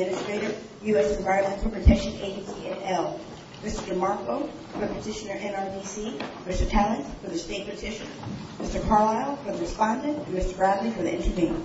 Administrator, U.S. Environmental Protection Agency et al. Mr. DeMarco for Petitioner NRDC, Mr. Tallent for the State Petitioner, Mr. Carlisle for the Respondent, and Mr. Bradley for the Intervenor.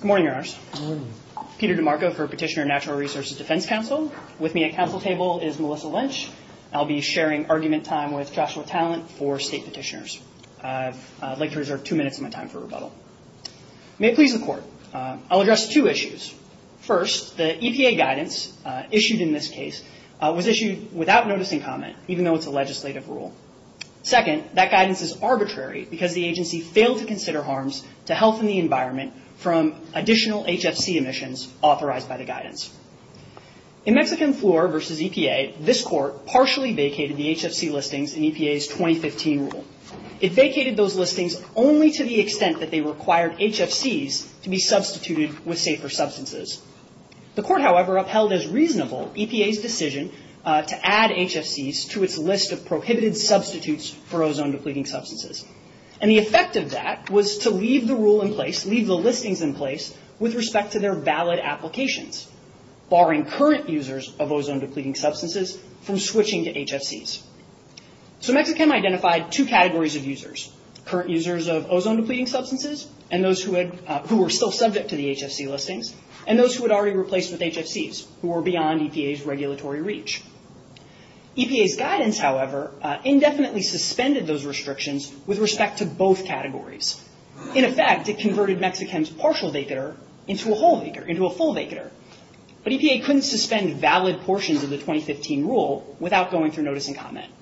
Good morning, your honors. Good morning. Peter DeMarco for Petitioner Natural Resources Defense Council. With me at council table is Melissa Lynch. I'll be sharing argument time with Joshua Tallent for State Petitioners. I'd like to reserve the opportunity to introduce the State Petitioner. Two minutes of my time for rebuttal. May it please the court, I'll address two issues. First, the EPA guidance issued in this case was issued without noticing comment, even though it's a legislative rule. Second, that guidance is arbitrary because the agency failed to consider harms to health and the environment from additional HFC emissions authorized by the guidance. In Mexican Fluor v. EPA, this court partially vacated the HFC listings in EPA's 2015 rule. It vacated those listings only to the extent that they required HFCs to be substituted with safer substances. The court, however, upheld as reasonable EPA's decision to add HFCs to its list of prohibited substitutes for ozone-depleting substances. The effect of that was to leave the rule in place, leave the listings in place with respect to their valid applications, barring current users of ozone-depleting substances from switching to HFCs. Mexichem identified two categories of users, current users of ozone-depleting substances who were still subject to the HFC listings and those who had already replaced with HFCs who were beyond EPA's regulatory reach. EPA's guidance, however, indefinitely suspended those restrictions with respect to both categories. In effect, it converted Mexichem's partial vacator into a whole vacator, into a full vacator. But EPA couldn't suspend valid portions of the 2015 rule without going through notice and comment.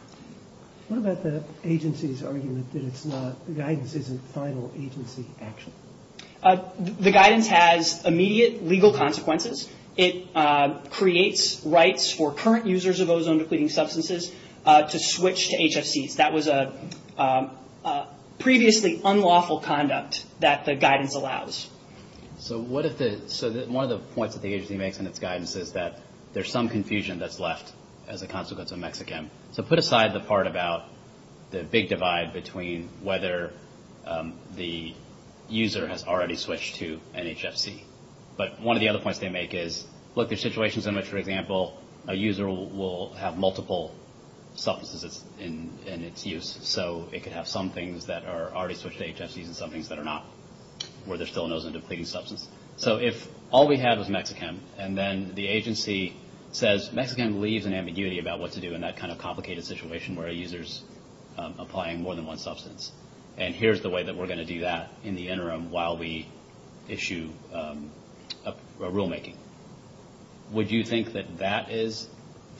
What about the agency's argument that it's not, the guidance isn't final agency action? The guidance has immediate legal consequences. It creates rights for current users of ozone-depleting substances to switch to HFCs. That was a previously unlawful conduct that the guidance allows. So what if the, so one of the points that the agency makes in its guidance is that there's some confusion that's left as a consequence of Mexichem. So put aside the part about the big divide between whether the user has already switched to an HFC. But one of the other points they make is, look, there's situations in which, for example, a user will have multiple substances in its use. So it could have some things that are already switched to HFCs and some things that are not, where there's still an ozone-depleting substance. So if all we had was Mexichem, and then the agency says, Mexichem leaves an ambiguity about what to do in that kind of complicated situation where a user's applying more than one substance. And here's the way that we're going to do that in the interim while we issue a rulemaking. Would you think that that is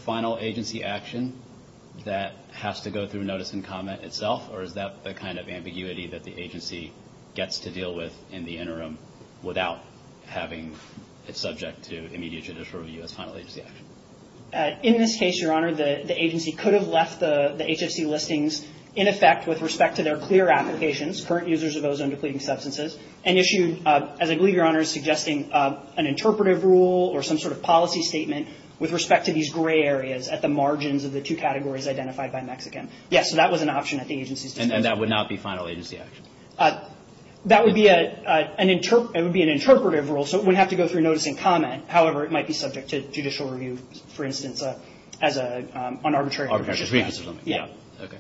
final agency action that has to go through notice and comment itself? Or is that the kind of ambiguity that the agency gets to deal with in the interim without having it subject to immediate judicial review as final agency action? In this case, Your Honor, the agency could have left the HFC listings in effect with respect to their clear applications, current users of ozone-depleting substances, and issued, as I believe Your Honor is suggesting, an interpretive rule or some sort of policy statement with respect to these gray areas at the margins of the two categories identified by Mexichem. Yes, so that was an option at the agency's disposal. And that would not be final agency action? That would be an interpretive rule. So it would have to go through notice and comment. However, it might be subject to judicial review, for instance, on arbitrary conditions. Yeah. Okay.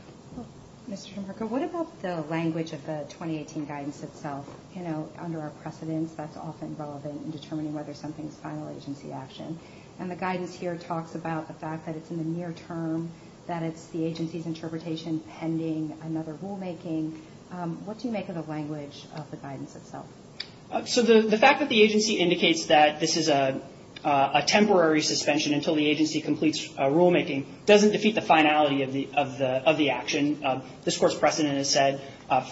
Mr. DeMarco, what about the language of the 2018 guidance itself? You know, under our precedence, that's often relevant in determining whether something is final agency action. And the guidance here talks about the fact that it's in the near term, that it's the agency's interpretation pending another rulemaking. What do you make of the language of the guidance itself? So the fact that the agency indicates that this is a temporary suspension until the agency completes rulemaking doesn't defeat the finality of the action. This court's precedent has said,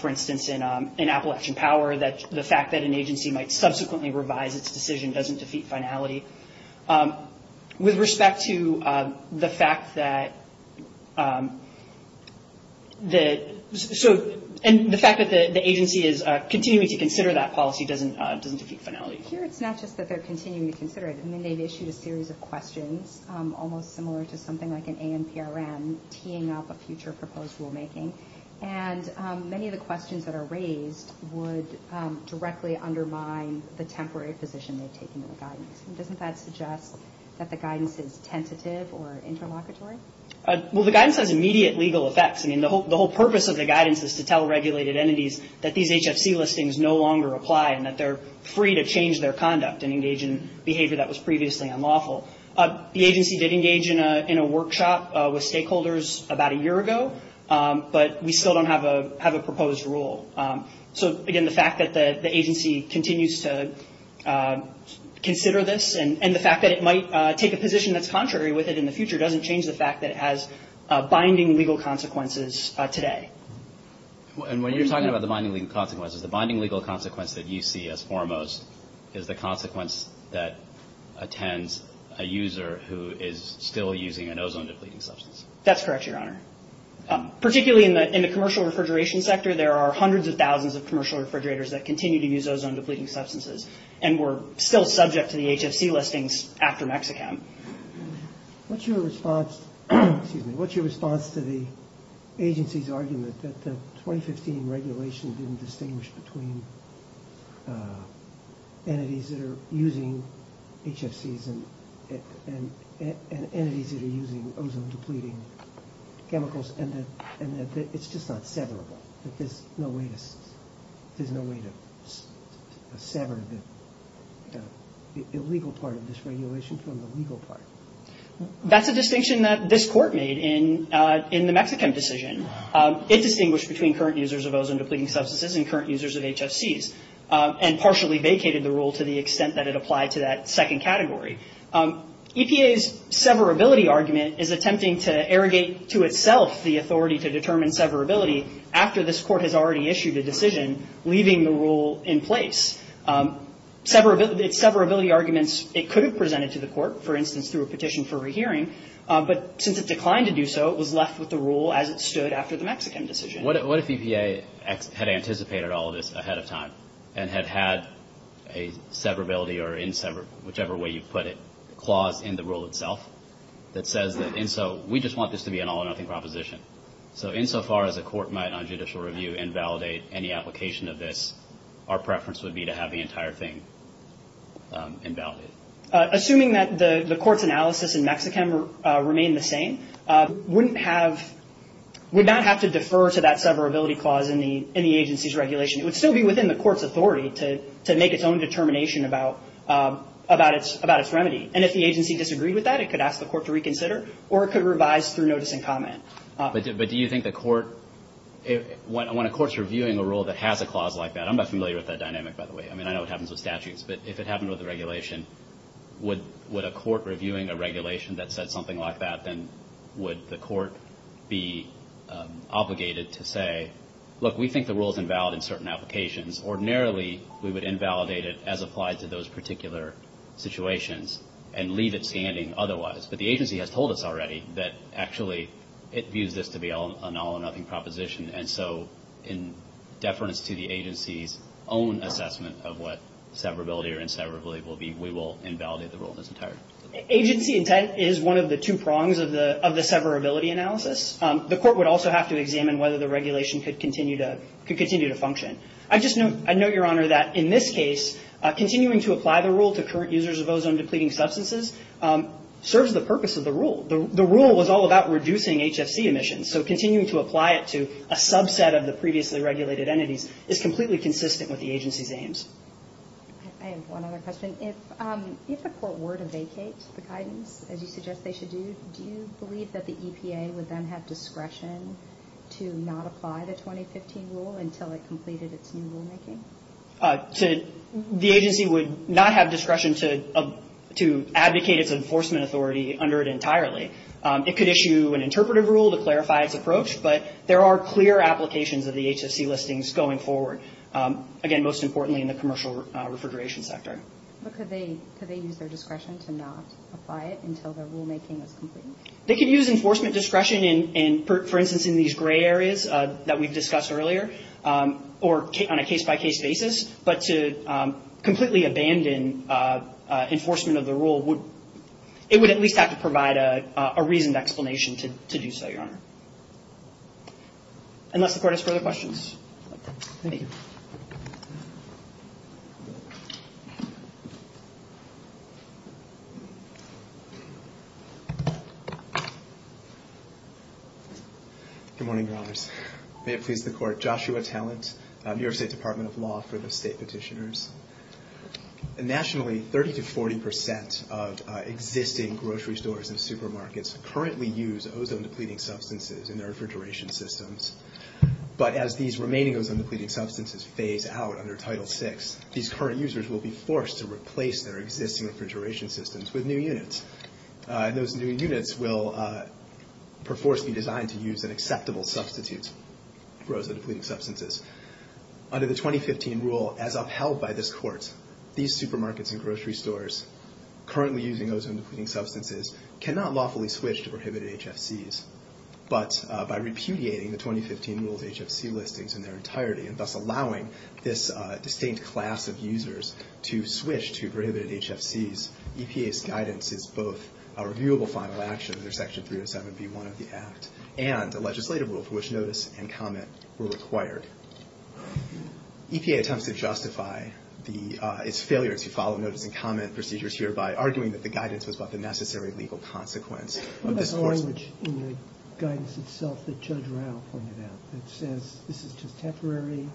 for instance, in Appalachian Power, that the fact that an agency might subsequently revise its decision doesn't defeat finality. With respect to the fact that the agency is continuing to consider that policy doesn't defeat finality. Here it's not just that they're continuing to consider it. I mean, they've issued a series of questions, almost similar to something like an ANPRM, teeing up a future proposed rulemaking. And many of the questions that are raised would directly undermine the temporary position they've taken in the guidance. Doesn't that suggest that the guidance is tentative or interlocutory? Well, the guidance has immediate legal effects. I mean, the whole purpose of the guidance is to tell regulated entities that these HFC listings no longer apply and that they're free to change their conduct and engage in behavior that was previously unlawful. The agency did engage in a workshop with stakeholders about a year ago. But we still don't have a proposed rule. So, again, the fact that the agency continues to consider this and the fact that it might take a position that's contrary with it in the future doesn't change the fact that it has binding legal consequences today. And when you're talking about the binding legal consequences, the binding legal consequence that you see as foremost is the consequence that attends a user who is still using an ozone-depleting substance. That's correct, Your Honor. Particularly in the commercial refrigeration sector, there are hundreds of thousands of commercial refrigerators that continue to use ozone-depleting substances and we're still subject to the HFC listings after Mexi-Chem. What's your response to the agency's argument that the 2015 regulation didn't distinguish between entities that are using HFCs and entities that are using ozone-depleting chemicals and that it's just not severable, that there's no way to sever the illegal part of this regulation from the legal part? That's a distinction that this Court made in the Mexi-Chem decision. It distinguished between current users of ozone-depleting substances and current users of HFCs. And partially vacated the rule to the extent that it applied to that second category. EPA's severability argument is attempting to arrogate to itself the authority to determine severability after this Court has already issued a decision leaving the rule in place. Severability arguments, it could have presented to the Court, for instance, through a petition for rehearing. But since it declined to do so, it was left with the rule as it stood after the Mexi-Chem decision. What if EPA had anticipated all of this ahead of time and had had a severability or inseverability, whichever way you put it, clause in the rule itself that says that, and so we just want this to be an all-or-nothing proposition. So insofar as a Court might on judicial review invalidate any application of this, our preference would be to have the entire thing invalidated. Assuming that the Court's analysis in Mexi-Chem remained the same, wouldn't have, would not have to defer to that severability clause in the agency's regulation. It would still be within the Court's authority to make its own determination about its remedy. And if the agency disagreed with that, it could ask the Court to reconsider, or it could revise through notice and comment. But do you think the Court, when a Court's reviewing a rule that has a clause like that, I'm not familiar with that dynamic, by the way. I mean, I know it happens with statutes. But if it happened with a regulation, would a Court reviewing a regulation that said something like that, then would the Court be obligated to say, look, we think the rule is invalid in certain applications. Ordinarily, we would invalidate it as applied to those particular situations and leave it standing otherwise. But the agency has told us already that actually it views this to be an all-or-nothing proposition. And so in deference to the agency's own assessment of what severability or inseverability will be, we will invalidate the rule in its entirety. Agency intent is one of the two prongs of the severability analysis. The Court would also have to examine whether the regulation could continue to function. I just note, Your Honor, that in this case, continuing to apply the rule to current users of ozone-depleting substances serves the purpose of the rule. The rule was all about reducing HFC emissions. So continuing to apply it to a subset of the previously regulated entities is completely consistent with the agency's aims. I have one other question. If the Court were to vacate the guidance, as you suggest they should do, do you believe that the EPA would then have discretion to not apply the 2015 rule until it completed its new rulemaking? The agency would not have discretion to advocate its enforcement authority under it entirely. It could issue an interpretive rule to clarify its approach, but there are clear applications of the HFC listings going forward, again, most importantly in the commercial refrigeration sector. But could they use their discretion to not apply it until their rulemaking is complete? They could use enforcement discretion in, for instance, in these gray areas that we've discussed earlier, or on a case-by-case basis. But to completely abandon enforcement of the rule, it would at least have to provide a reasoned explanation to do so, Your Honor. Unless the Court has further questions. Thank you. Good morning, Your Honors. May it please the Court, Joshua Talent, New York State Department of Law for the State Petitioners. Nationally, 30 to 40 percent of existing grocery stores and supermarkets currently use ozone-depleting substances in their refrigeration systems. But as these remaining ozone-depleting substances phase out under Title VI, these current users will be forced to replace their existing refrigeration systems with new units. And those new units will, perforce, be designed to use an acceptable substitute for ozone-depleting substances. Under the 2015 rule, as upheld by this Court, these supermarkets and grocery stores currently using ozone-depleting substances cannot lawfully switch to prohibited HFCs. But by repudiating the 2015 rule's HFC listings in their entirety, and thus allowing this distinct class of users to switch to prohibited HFCs, EPA's guidance is both a reviewable final action under Section 307B1 of the Act and a legislative rule for which notice and comment were required. EPA attempts to justify its failure to follow notice and comment procedures hereby, arguing that the guidance was but the necessary legal consequence of this Court's... That Judge Rao pointed out. It says this is just temporary.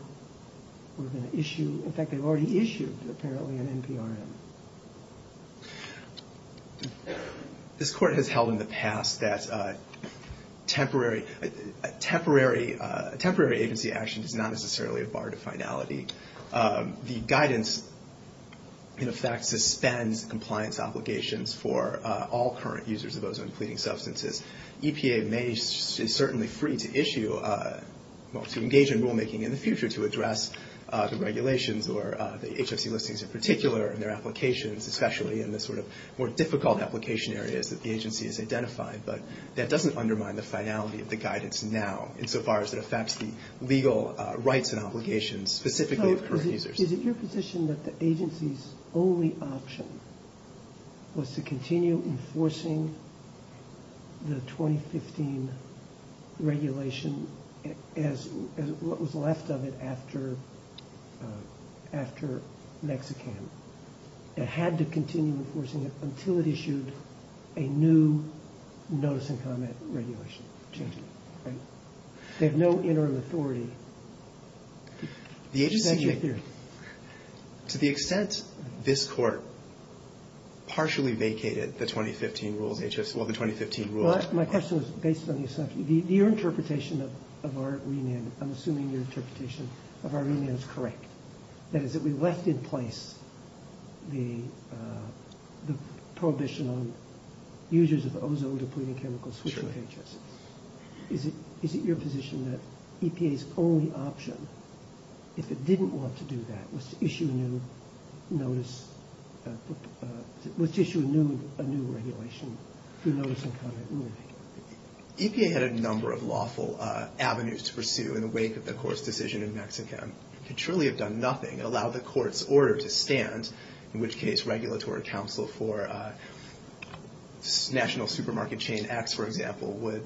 We're going to issue... In fact, they've already issued, apparently, an NPRM. This Court has held in the past that temporary agency action is not necessarily a bar to finality. The guidance, in effect, suspends compliance obligations for all current users of ozone-depleting substances. EPA is certainly free to issue, well, to engage in rulemaking in the future to address the regulations or the HFC listings in particular and their applications, especially in the sort of more difficult application areas that the agency has identified. But that doesn't undermine the finality of the guidance now, insofar as it affects the legal rights and obligations specifically of current users. Is it your position that the agency's only option was to continue enforcing the 2015 regulation as what was left of it after Mexican? It had to continue enforcing it until it issued a new notice and comment regulation? They have no interim authority. To the extent this Court partially vacated the 2015 rules... My question is based on your assumption. Your interpretation of our remand, I'm assuming your interpretation of our remand is correct. That is, that we left in place the prohibition on users of ozone-depleting chemicals switching pages. Is it your position that EPA's only option, if it didn't want to do that, was to issue a new regulation through notice and comment ruling? EPA had a number of lawful avenues to pursue in the wake of the Court's decision in Mexican. It could truly have done nothing and allowed the Court's order to stand, in which case regulatory counsel for national supermarket chain acts, for example,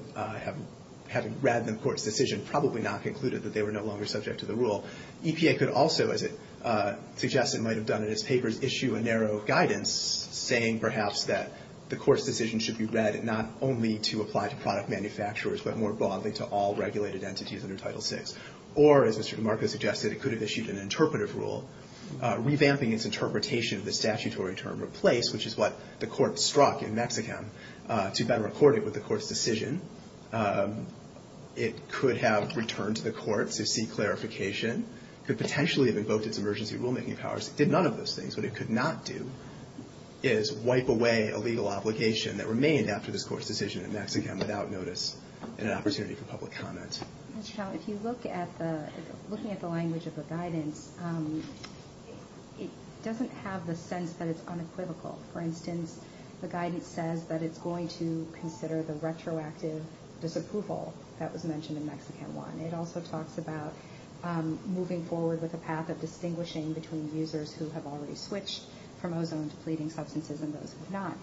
having read the Court's decision, probably not concluded that they were no longer subject to the rule. EPA could also, as it suggests it might have done in its papers, issue a narrow guidance saying perhaps that the Court's decision should be read not only to apply to product manufacturers, but more broadly to all regulated entities under Title VI. Or, as Mr. DeMarco suggested, it could have issued an interpretive rule, revamping its interpretation of the statutory term replace, which is what the Court struck in Mexican to better accord it with the Court's decision. It could have returned to the Court to seek clarification, could potentially have invoked its emergency rulemaking powers. It did none of those things. What it could not do is wipe away a legal obligation that remained after this Court's decision in Mexican without notice and an opportunity for public comment. If you look at the language of the guidance, it doesn't have the sense that it's unequivocal. For instance, the guidance says that it's going to consider the retroactive disapproval that was mentioned in Mexican I. It also talks about moving forward with a path of distinguishing between users who have already switched from ozone-depleting substances and those who have not.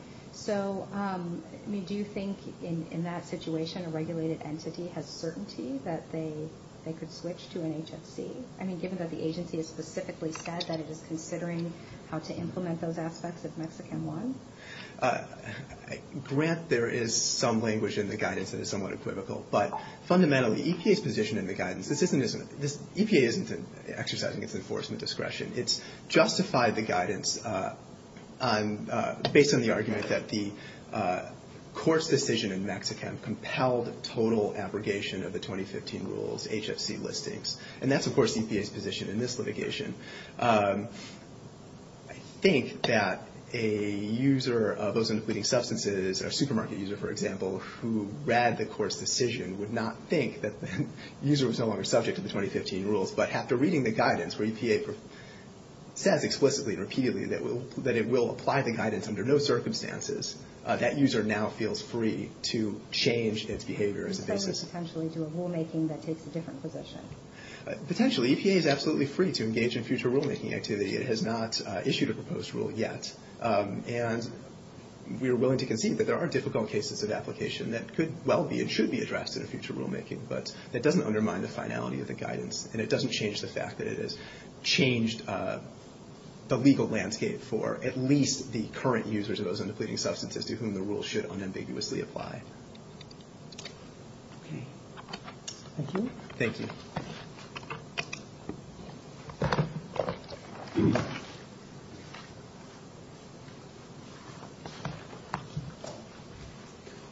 Do you think, in that situation, a regulated entity has certainty that they could switch to an HFC, given that the agency has specifically said that it is considering how to implement those aspects of Mexican I? Grant, there is some language in the guidance that is somewhat equivocal. But, fundamentally, EPA's position in the guidance, EPA isn't exercising its enforcement discretion. It's justified the guidance based on the argument that the Court's decision in Mexican compelled total abrogation of the 2015 rules, HFC listings. And that's, of course, EPA's position in this litigation. I think that a user of ozone-depleting substances, a supermarket user, for example, who read the Court's decision would not think that the user was no longer subject to the 2015 rules. But, after reading the guidance where EPA says explicitly and repeatedly that it will apply the guidance under no circumstances, that user now feels free to change its behavior as a basis. So, potentially, to a rulemaking that takes a different position? Potentially. EPA is absolutely free to engage in future rulemaking activity. It has not issued a proposed rule yet. And we are willing to concede that there are difficult cases of application that could well be and should be addressed in a future rulemaking, but that doesn't undermine the finality of the guidance. And it doesn't change the fact that it has changed the legal landscape for at least the current users of ozone-depleting substances to whom the rules should unambiguously apply. Thank you.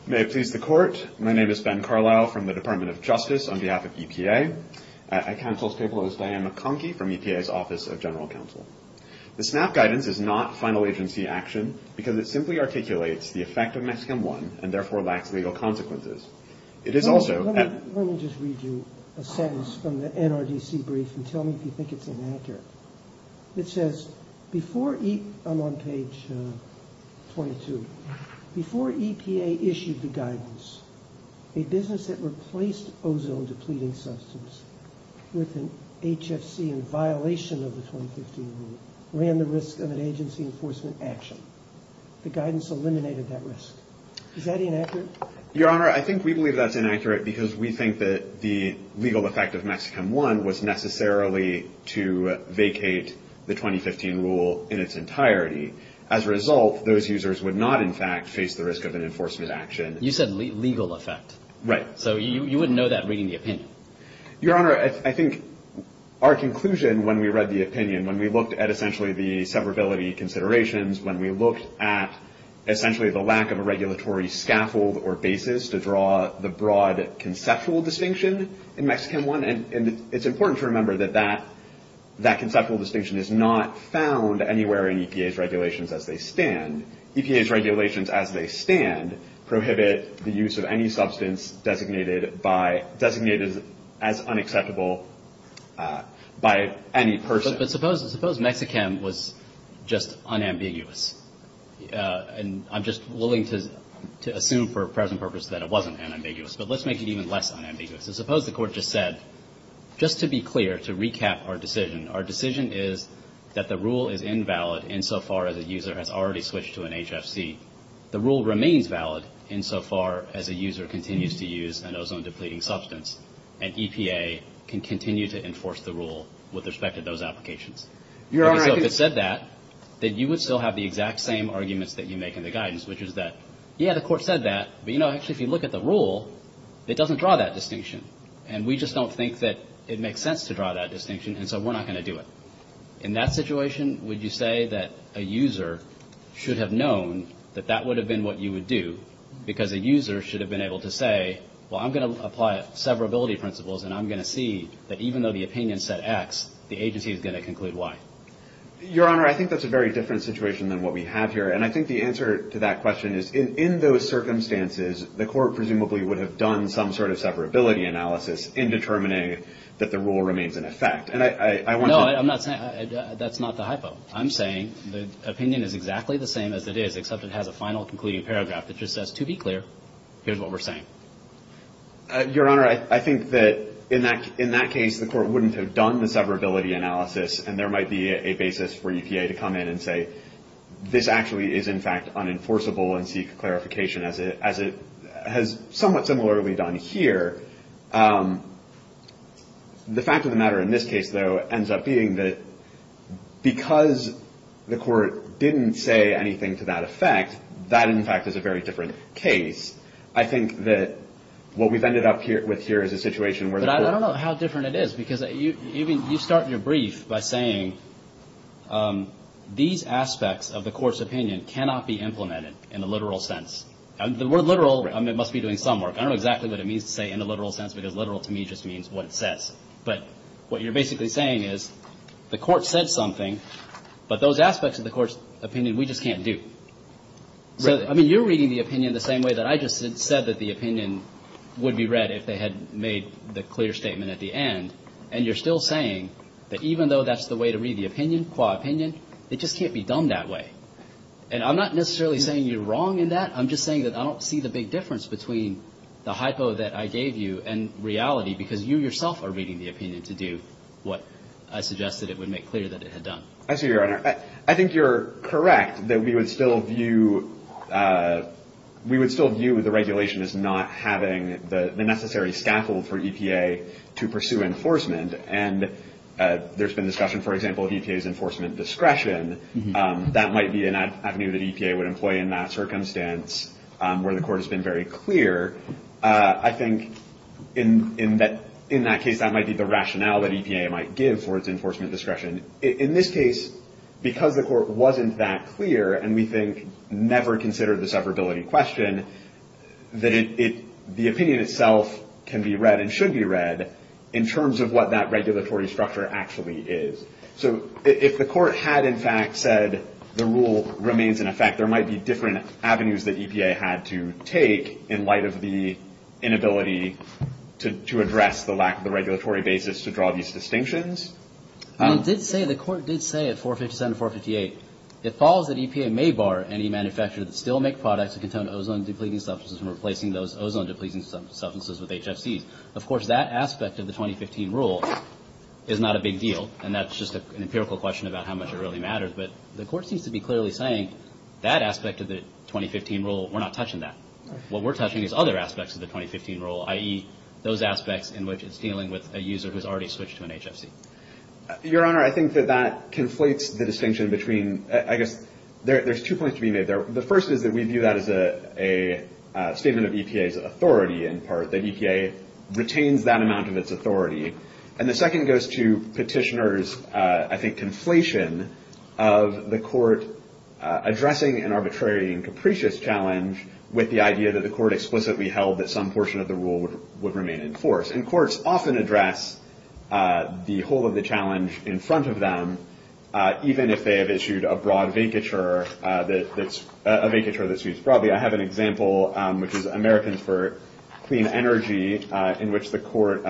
May it please the Court. My name is Ben Carlyle from the Department of Justice on behalf of EPA. At counsel's table is Diane McConkie from EPA's Office of General Counsel. The SNAP guidance is not final agency action because it simply articulates the effect of Mexican I and therefore lacks legal consequences. It is also... Let me just read you a sentence from the NRDC brief and tell me if you think it's inaccurate. It says, before... I'm on page 22. Before EPA issued the guidance, a business that replaced ozone-depleting substance with an HFC in violation of the 2015 rule ran the risk of an agency enforcement action. The guidance eliminated that risk. Is that inaccurate? Your Honor, I think we believe that's inaccurate because we think that the legal effect of Mexican I was necessarily to vacate the 2015 rule in its entirety. As a result, those users would not, in fact, face the risk of an enforcement action. You said legal effect. Right. So you wouldn't know that reading the opinion. Your Honor, I think our conclusion when we read the opinion, when we looked at essentially the severability considerations, when we looked at essentially the lack of a regulatory scaffold or basis to draw the broad conceptual distinction in Mexican I, and it's important to remember that that conceptual distinction is not found anywhere in EPA's regulations as they stand. EPA's regulations as they stand prohibit the use of any substance designated as unacceptable by any person. But suppose Mexican I was just unambiguous. And I'm just willing to assume for present purpose that it wasn't unambiguous. But let's make it even less unambiguous. Suppose the Court just said, just to be clear, to recap our decision, our decision is that the rule is invalid insofar as a user has already switched to an HFC. The rule remains valid insofar as a user continues to use an ozone-depleting substance, and EPA can continue to enforce the rule with respect to those applications. Your Honor, I think the Court said that, that you would still have the exact same arguments that you make in the guidance, which is that, yeah, the Court said that, but, you know, actually, if you look at the rule, it doesn't draw that distinction. And we just don't think that it makes sense to draw that distinction, and so we're not going to do it. In that situation, would you say that a user should have known that that would have been what you would do, because a user should have been able to say, well, I'm going to apply severability principles, and I'm going to see that even though the opinion said X, the agency is going to conclude Y. Your Honor, I think that's a very different situation than what we have here. And I think the answer to that question is, in those circumstances, the Court presumably would have done some sort of severability analysis in determining that the rule remains in effect. And I want to – No, I'm not saying – that's not the hypo. I'm saying the opinion is exactly the same as it is, except it has a final concluding paragraph that just says, to be clear, here's what we're saying. Your Honor, I think that in that case, the Court wouldn't have done the severability analysis, and there might be a basis for EPA to come in and say, this actually is, in fact, unenforceable and seek clarification, as it has somewhat similarly done here. The fact of the matter in this case, though, ends up being that because the Court didn't say anything to that effect, that, in fact, is a very different case. I think that what we've ended up with here is a situation where the Court – I'm going to end by saying these aspects of the Court's opinion cannot be implemented in the literal sense. The word literal must be doing some work. I don't know exactly what it means to say in the literal sense, because literal to me just means what it says. But what you're basically saying is the Court said something, but those aspects of the Court's opinion, we just can't do. So, I mean, you're reading the opinion the same way that I just said that the opinion would be read if they had made the clear statement at the end. And you're still saying that even though that's the way to read the opinion, qua opinion, it just can't be done that way. And I'm not necessarily saying you're wrong in that. I'm just saying that I don't see the big difference between the hypo that I gave you and reality, because you yourself are reading the opinion to do what I suggested it would make clear that it had done. I see your Honor. I think you're correct that we would still view – we would still view the regulation as not having the necessary scaffold for EPA to pursue enforcement. And there's been discussion, for example, of EPA's enforcement discretion. That might be an avenue that EPA would employ in that circumstance where the Court has been very clear. I think in that case, that might be the rationale that EPA might give for its enforcement discretion. In this case, because the Court wasn't that clear and we think never considered the severability question, that the opinion itself can be read and should be read in terms of what that regulatory structure actually is. So if the Court had, in fact, said the rule remains in effect, there might be different avenues that EPA had to take in light of the inability to address the lack of the regulatory basis to draw these distinctions. The Court did say at 457 and 458, it follows that EPA may bar any manufacturer that still make products that contain ozone-depleting substances from replacing those ozone-depleting substances with HFCs. Of course, that aspect of the 2015 rule is not a big deal, and that's just an empirical question about how much it really matters. But the Court seems to be clearly saying that aspect of the 2015 rule, we're not touching that. What we're touching is other aspects of the 2015 rule, i.e., those aspects in which it's dealing with a user who's already switched to an HFC. Your Honor, I think that that conflates the distinction between, I guess, there's two points to be made there. The first is that we view that as a statement of EPA's authority in part, that EPA retains that amount of its authority. And the second goes to Petitioner's, I think, conflation of the Court addressing an arbitrary and capricious challenge with the idea that the Court explicitly held that some portion of the rule would remain in force. And courts often address the whole of the challenge in front of them, even if they have issued a broad vacature that's used broadly. I have an example, which is Americans for Clean Energy, in which the Court,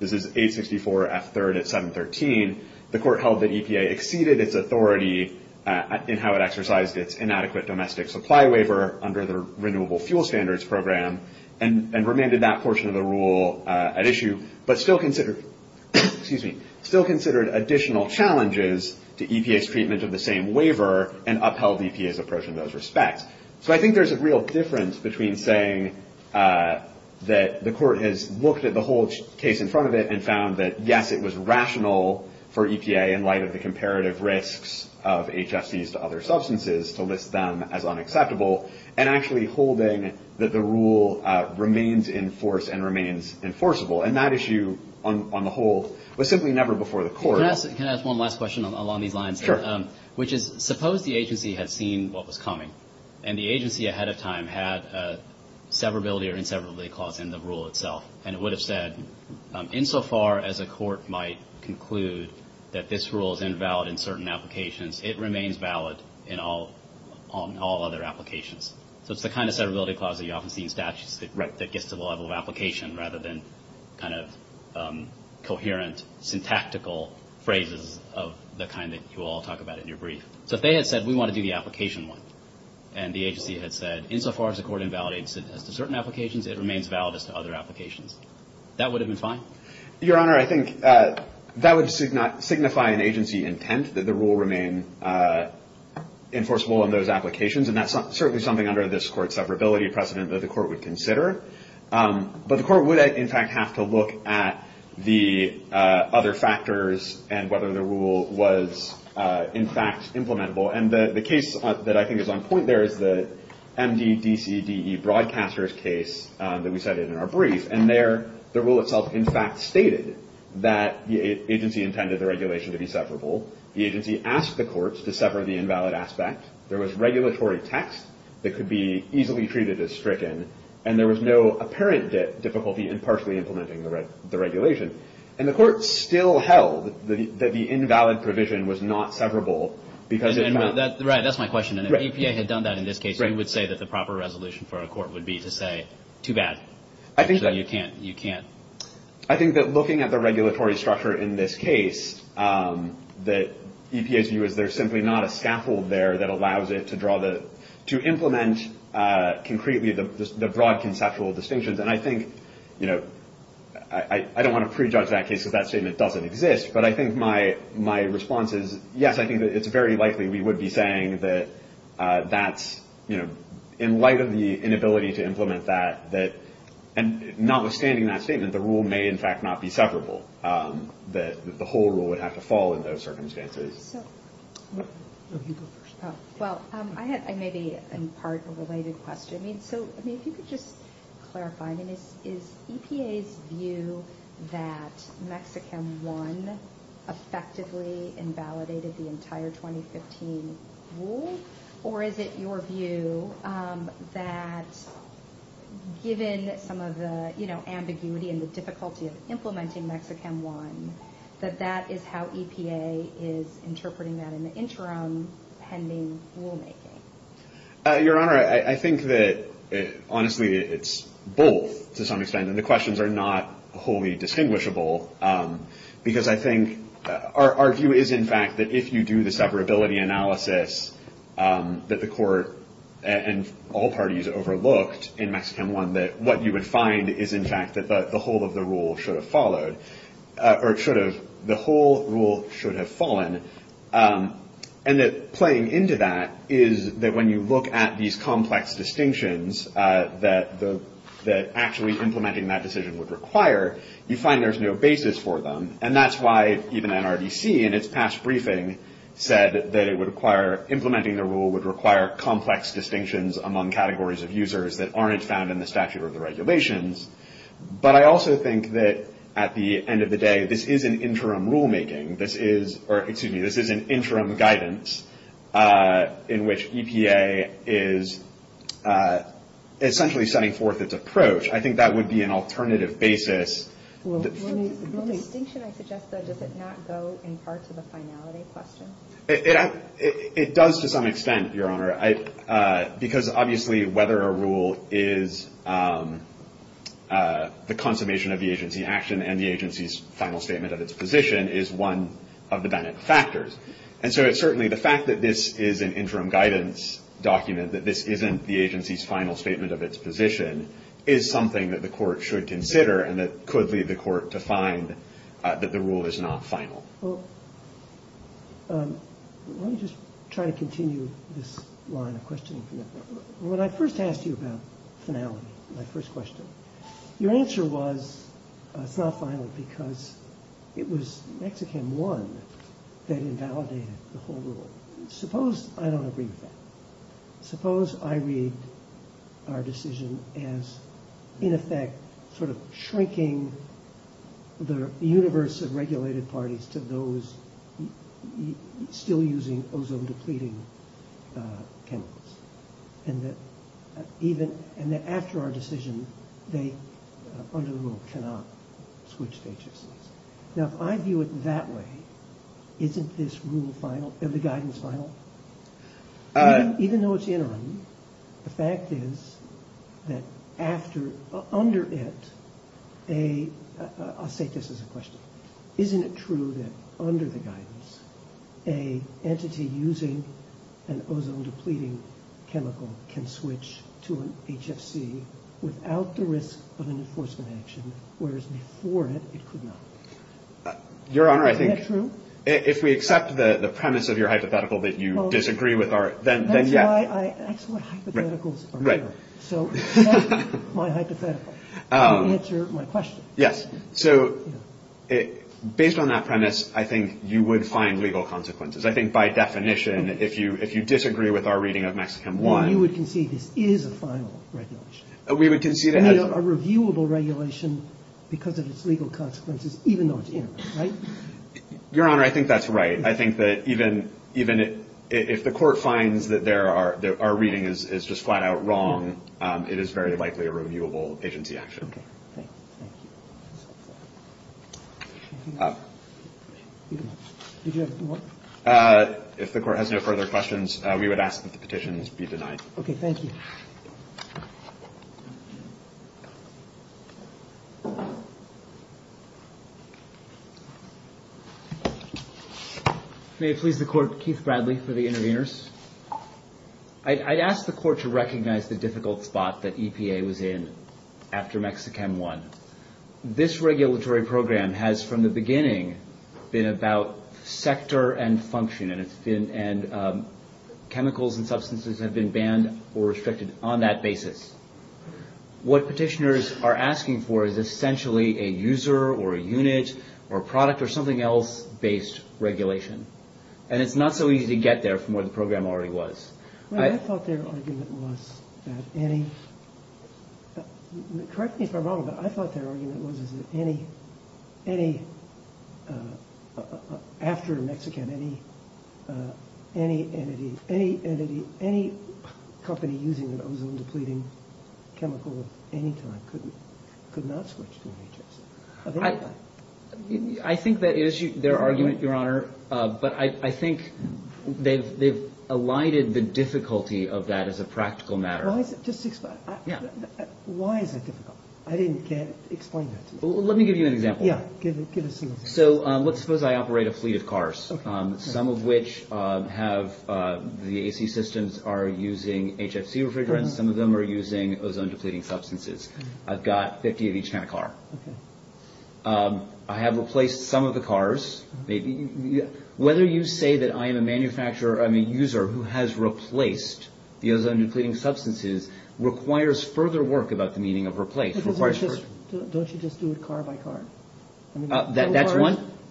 this is 864 F. 3rd at 713, the Court held that EPA exceeded its authority in how it exercised its inadequate domestic supply waiver under the Renewable Fuel Standards Program and remanded that portion of the rule at issue, but still considered additional challenges to EPA's treatment of the same waiver and upheld EPA's approach in those respects. So I think there's a real difference between saying that the Court has looked at the whole case in front of it and found that, yes, it was rational for EPA, in light of the comparative risks of HFCs to other substances, to list them as unacceptable, and actually holding that the rule remains in force and remains enforceable. And that issue, on the whole, was simply never before the Court. Can I ask one last question along these lines? Sure. Which is, suppose the agency had seen what was coming and the agency ahead of time had a severability or inseverability clause in the rule itself and it would have said, insofar as a court might conclude that this rule is invalid in certain applications, it remains valid in all other applications. So it's the kind of severability clause that you often see in statutes that gets to the level of application rather than kind of coherent, syntactical phrases of the kind that you all talk about in your brief. So if they had said, we want to do the application one, and the agency had said, insofar as the court invalidates it as to certain applications, it remains valid as to other applications, that would have been fine? Your Honor, I think that would signify an agency intent that the rule remain enforceable in those applications, and that's certainly something under this Court's severability precedent that the Court would consider. But the Court would, in fact, have to look at the other factors and whether the rule was, in fact, implementable. And the case that I think is on point there is the MDDCDE broadcaster's case that we cited in our brief. And there, the rule itself, in fact, stated that the agency intended the regulation to be severable. The agency asked the courts to sever the invalid aspect. There was regulatory text that could be easily treated as stricken, and there was no apparent difficulty in partially implementing the regulation. And the Court still held that the invalid provision was not severable because it was valid. Right, that's my question. If the EPA had done that in this case, you would say that the proper resolution for a court would be to say, too bad. Actually, you can't. I think that looking at the regulatory structure in this case, the EPA's view is there's simply not a scaffold there that allows it to implement concretely the broad conceptual distinctions. And I think, you know, I don't want to prejudge that case because that statement doesn't exist, but I think my response is, yes, I think that it's very likely we would be saying that that's, you know, in light of the inability to implement that, that notwithstanding that statement, the rule may, in fact, not be severable, that the whole rule would have to fall in those circumstances. Well, I had maybe in part a related question. So, I mean, if you could just clarify, I mean, is EPA's view that Mexichem I effectively invalidated the entire 2015 rule? Or is it your view that given some of the, you know, ambiguity and the difficulty of implementing Mexichem I, that that is how EPA is interpreting that in the interim pending rulemaking? Your Honor, I think that, honestly, it's both to some extent. And the questions are not wholly distinguishable because I think our view is, in fact, that if you do the separability analysis that the court and all parties overlooked in Mexichem I, that what you would find is, in fact, that the whole of the rule should have followed or should have the whole rule should have fallen. And that playing into that is that when you look at these complex distinctions that actually implementing that decision would require, you find there's no basis for them. And that's why even NRDC in its past briefing said that it would require, implementing the rule would require complex distinctions among categories of users that aren't found in the statute or the regulations. But I also think that at the end of the day, this is an interim rulemaking. This is, or excuse me, this is an interim guidance in which EPA is essentially setting forth its approach. I think that would be an alternative basis. The distinction I suggest, though, does it not go in part to the finality question? It does to some extent, Your Honor, because obviously whether a rule is the consummation of the agency action and the agency's final statement of its position is one of the dynamic factors. And so it's certainly the fact that this is an interim guidance document, that this isn't the agency's final statement of its position, is something that the Court should consider and that could lead the Court to find that the rule is not final. Well, let me just try to continue this line of questioning. When I first asked you about finality, my first question, your answer was it's not final because it was Mexican I that invalidated the whole rule. Suppose I don't agree with that. Suppose I read our decision as, in effect, sort of shrinking the universe of regulated parties to those still using ozone-depleting chemicals, and that after our decision, they under the rule cannot switch to HFCs. Now, if I view it that way, isn't this rule final, the guidance final? Even though it's interim, the fact is that after, under it, a, I'll state this as a question. Isn't it true that under the guidance, a entity using an ozone-depleting chemical can switch to an HFC without the risk of an enforcement action, whereas before it, it could not? Your Honor, I think. Isn't that true? If we accept the premise of your hypothetical that you disagree with our, then yes. That's what hypotheticals are for. So accept my hypothetical and answer my question. Yes. So based on that premise, I think you would find legal consequences. I think by definition, if you disagree with our reading of Mexican I. You would concede this is a final regulation. We would concede it has. A reviewable regulation because of its legal consequences, even though it's interim, right? Your Honor, I think that's right. I think that even if the court finds that our reading is just flat-out wrong, it is very likely a reviewable agency action. Okay. If the court has no further questions, we would ask that the petitions be denied. Okay, thank you. May it please the court, Keith Bradley for the interveners. I'd ask the court to recognize the difficult spot that EPA was in after MexiChem I. This regulatory program has, from the beginning, been about sector and function, and chemicals and substances have been banned or restricted on that basis. What petitioners are asking for is essentially a user or a unit or a product or something else-based regulation. And it's not so easy to get there from where the program already was. I thought their argument was that any, correct me if I'm wrong, but I thought their argument was that any, after MexiChem, any entity, any company using an ozone-depleting chemical at any time could not switch to a matrix of any kind. I think that is their argument, Your Honor, but I think they've elided the difficulty of that as a practical matter. Just explain. Yeah. Why is that difficult? I can't explain that to you. Let me give you an example. Yeah, give us an example. So let's suppose I operate a fleet of cars, some of which have the AC systems are using HFC refrigerants, some of them are using ozone-depleting substances. I've got 50 of each kind of car. I have replaced some of the cars. Whether you say that I am a user who has replaced the ozone-depleting substances requires further work about the meaning of replace. Don't you just do it car by car?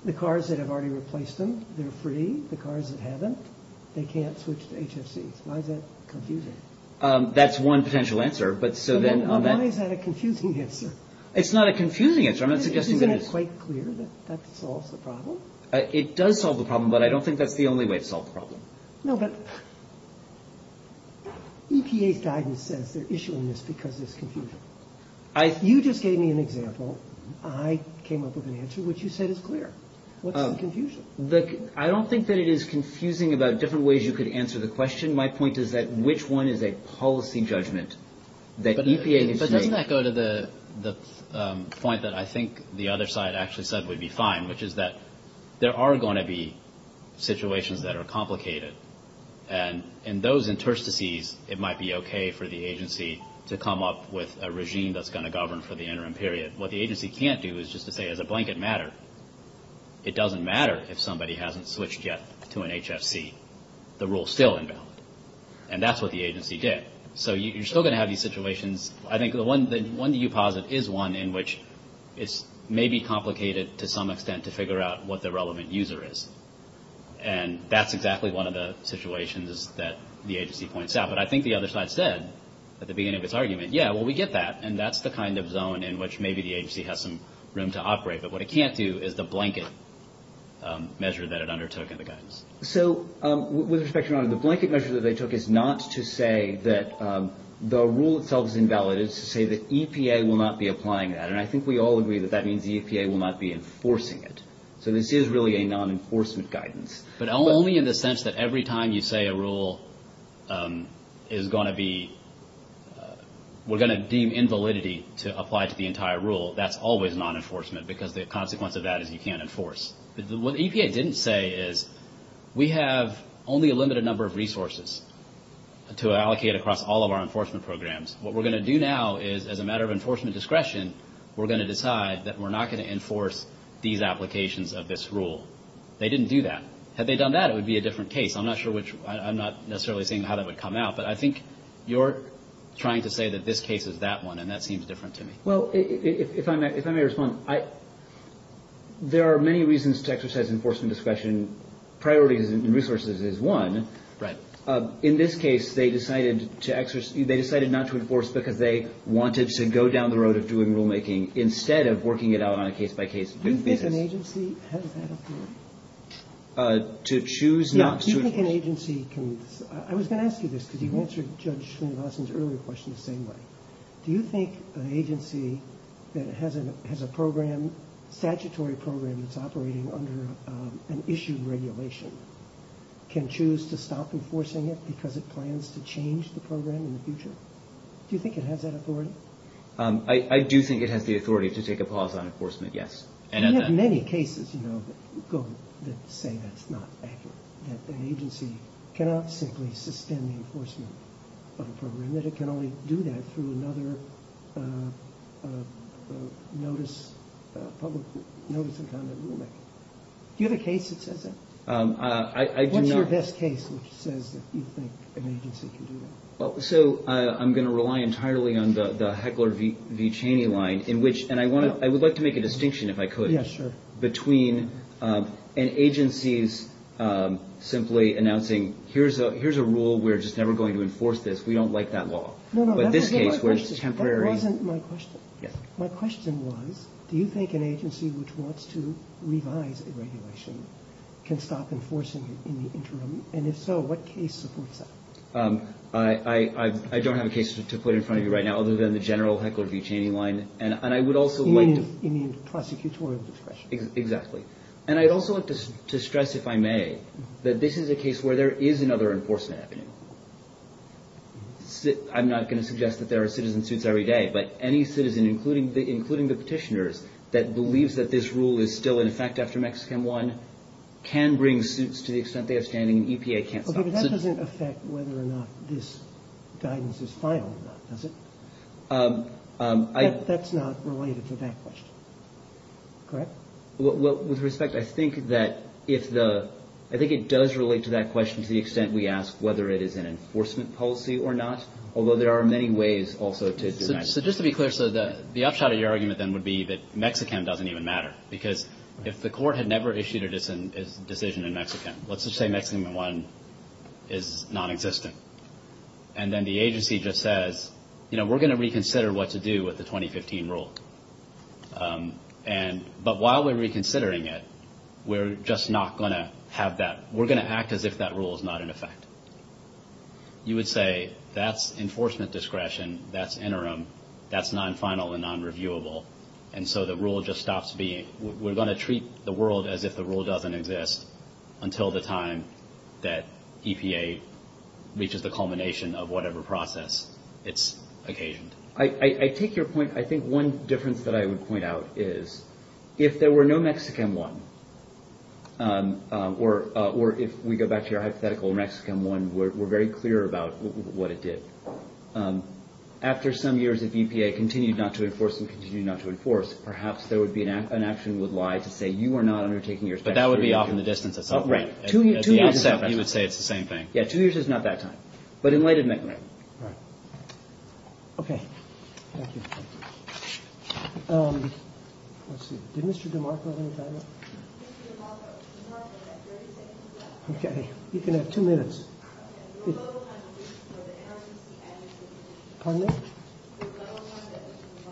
The cars that have already replaced them, they're free. The cars that haven't, they can't switch to HFCs. Why is that confusing? That's one potential answer. Why is that a confusing answer? It's not a confusing answer. Isn't it quite clear that that solves the problem? It does solve the problem, but I don't think that's the only way to solve the problem. No, but EPA's guidance says they're issuing this because there's confusion. You just gave me an example. I came up with an answer, which you said is clear. What's the confusion? I don't think that it is confusing about different ways you could answer the question. My point is that which one is a policy judgment that EPA needs to make? But doesn't that go to the point that I think the other side actually said would be fine, which is that there are going to be situations that are complicated, and in those interstices, it might be okay for the agency to come up with a regime that's going to govern for the interim period. What the agency can't do is just to say, as a blanket matter, it doesn't matter if somebody hasn't switched yet to an HFC. The rule's still invalid, and that's what the agency did. So you're still going to have these situations. I think the one that you posit is one in which it's maybe complicated to some extent to figure out what the relevant user is, and that's exactly one of the situations that the agency points out. But I think the other side said at the beginning of its argument, yeah, well, we get that, and that's the kind of zone in which maybe the agency has some room to operate. But what it can't do is the blanket measure that it undertook in the guidance. So with respect, Your Honor, the blanket measure that they took is not to say that the rule itself is invalid. It's to say that EPA will not be applying that, and I think we all agree that that means EPA will not be enforcing it. So this is really a non-enforcement guidance. But only in the sense that every time you say a rule is going to be we're going to deem invalidity to apply to the entire rule, that's always non-enforcement because the consequence of that is you can't enforce. What EPA didn't say is we have only a limited number of resources to allocate across all of our enforcement programs. What we're going to do now is, as a matter of enforcement discretion, we're going to decide that we're not going to enforce these applications of this rule. They didn't do that. Had they done that, it would be a different case. I'm not necessarily seeing how that would come out, but I think you're trying to say that this case is that one, and that seems different to me. Well, if I may respond, there are many reasons to exercise enforcement discretion. Priorities and resources is one. Right. In this case, they decided not to enforce because they wanted to go down the road of doing rulemaking instead of working it out on a case-by-case basis. Do you think an agency has that authority? To choose not to enforce? Do you think an agency can? I was going to ask you this because you answered Judge Schleenbausen's earlier question the same way. Do you think an agency that has a program, statutory program that's operating under an issued regulation, can choose to stop enforcing it because it plans to change the program in the future? Do you think it has that authority? I do think it has the authority to take a pause on enforcement, yes. We have many cases, you know, that say that's not accurate, that an agency cannot simply sustain the enforcement of a program, and that it can only do that through another notice and conduct rulemaking. Do you have a case that says that? I do not. What's your best case which says that you think an agency can do that? So I'm going to rely entirely on the Heckler v. Cheney line in which, and I would like to make a distinction if I could. Yes, sure. Between an agency's simply announcing here's a rule, we're just never going to enforce this, we don't like that law. No, no, that wasn't my question. But this case was temporary. That wasn't my question. Yes. My question was do you think an agency which wants to revise a regulation can stop enforcing it in the interim? And if so, what case supports that? I don't have a case to put in front of you right now other than the general Heckler v. Cheney line, and I would also like to – You mean prosecutorial discretion. Exactly. And I'd also like to stress, if I may, that this is a case where there is another enforcement happening. I'm not going to suggest that there are citizen suits every day, but any citizen, including the petitioners, that believes that this rule is still in effect after Mexican I can bring suits to the extent they are standing and EPA can't stop it. Okay, but that doesn't affect whether or not this guidance is final or not, does it? That's not related to that question. Correct? With respect, I think that if the – I think it does relate to that question to the extent we ask whether it is an enforcement policy or not, although there are many ways also to do that. So just to be clear, so the upshot of your argument then would be that Mexicam doesn't even matter because if the court had never issued a decision in Mexicam, let's just say Mexicam I is nonexistent, and then the agency just says, you know, we're going to reconsider what to do with the 2015 rule. And – but while we're reconsidering it, we're just not going to have that – we're going to act as if that rule is not in effect. You would say that's enforcement discretion, that's interim, that's non-final and non-reviewable, and so the rule just stops being – we're going to treat the world as if the rule doesn't exist until the time that EPA reaches the culmination of whatever process it's occasioned. I take your point – I think one difference that I would point out is if there were no Mexicam I, or if we go back to your hypothetical Mexicam I, we're very clear about what it did. After some years, if EPA continued not to enforce and continued not to enforce, perhaps there would be – an action would lie to say you are not undertaking your – But that would be off in the distance at some point. Right. Two years is not that time. You would say it's the same thing. Yeah, two years is not that time. But in late admin. Right. Okay. Thank you. Let's see. Did Mr. DeMarco have any time left? Mr. DeMarco, you have 30 seconds left. Okay. You can have two minutes. Okay. Your level of time for the NRDC and EPA. Pardon me? Your level of time for the NRC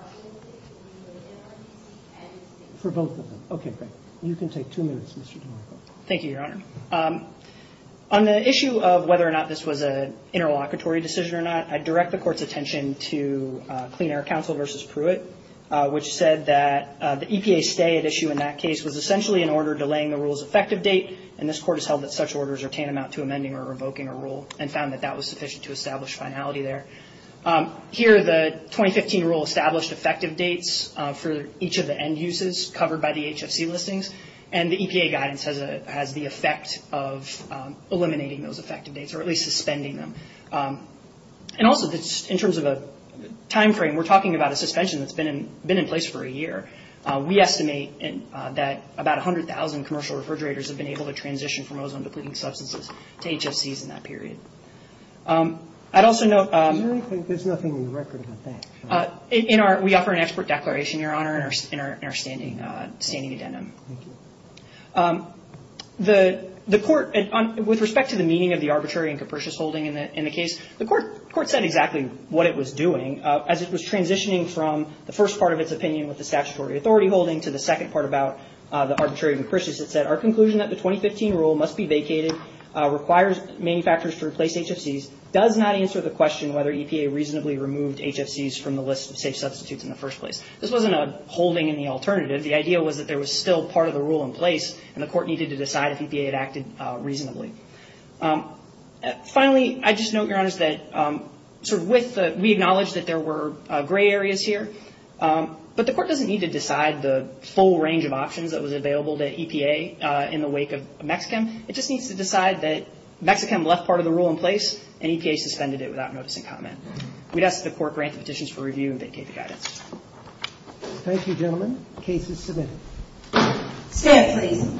and EPA. For both of them. Okay, great. You can take two minutes, Mr. DeMarco. Thank you, Your Honor. On the issue of whether or not this was an interlocutory decision or not, I direct the Court's attention to Clean Air Council v. Pruitt, which said that the EPA stay at issue in that case was essentially an order delaying the rule's effective date, and this Court has held that such orders are tantamount to amending or revoking a rule and found that that was sufficient to establish finality there. Here, the 2015 rule established effective dates for each of the end uses covered by the HFC listings, and the EPA guidance has the effect of eliminating those effective dates or at least suspending them. And also, in terms of a time frame, we're talking about a suspension that's been in place for a year. We estimate that about 100,000 commercial refrigerators have been able to transition from ozone-depleting substances to HFCs in that period. I'd also note— I really think there's nothing in the record about that. We offer an expert declaration, Your Honor, in our standing addendum. Thank you. The Court, with respect to the meaning of the arbitrary and capricious holding in the case, the Court said exactly what it was doing. As it was transitioning from the first part of its opinion with the statutory authority holding to the second part about the arbitrary and capricious, it said, Our conclusion that the 2015 rule must be vacated, requires manufacturers to replace HFCs, does not answer the question whether EPA reasonably removed HFCs from the list of safe substitutes in the first place. This wasn't a holding in the alternative. The idea was that there was still part of the rule in place, and the Court needed to decide if EPA had acted reasonably. Finally, I'd just note, Your Honors, that we acknowledge that there were gray areas here, but the Court doesn't need to decide the full range of options that was available to EPA in the wake of Mexichem. It just needs to decide that Mexichem left part of the rule in place and EPA suspended it without notice and comment. We'd ask that the Court grant the petitions for review and vacate the guidance. Thank you, gentlemen. The case is submitted. Stand, please.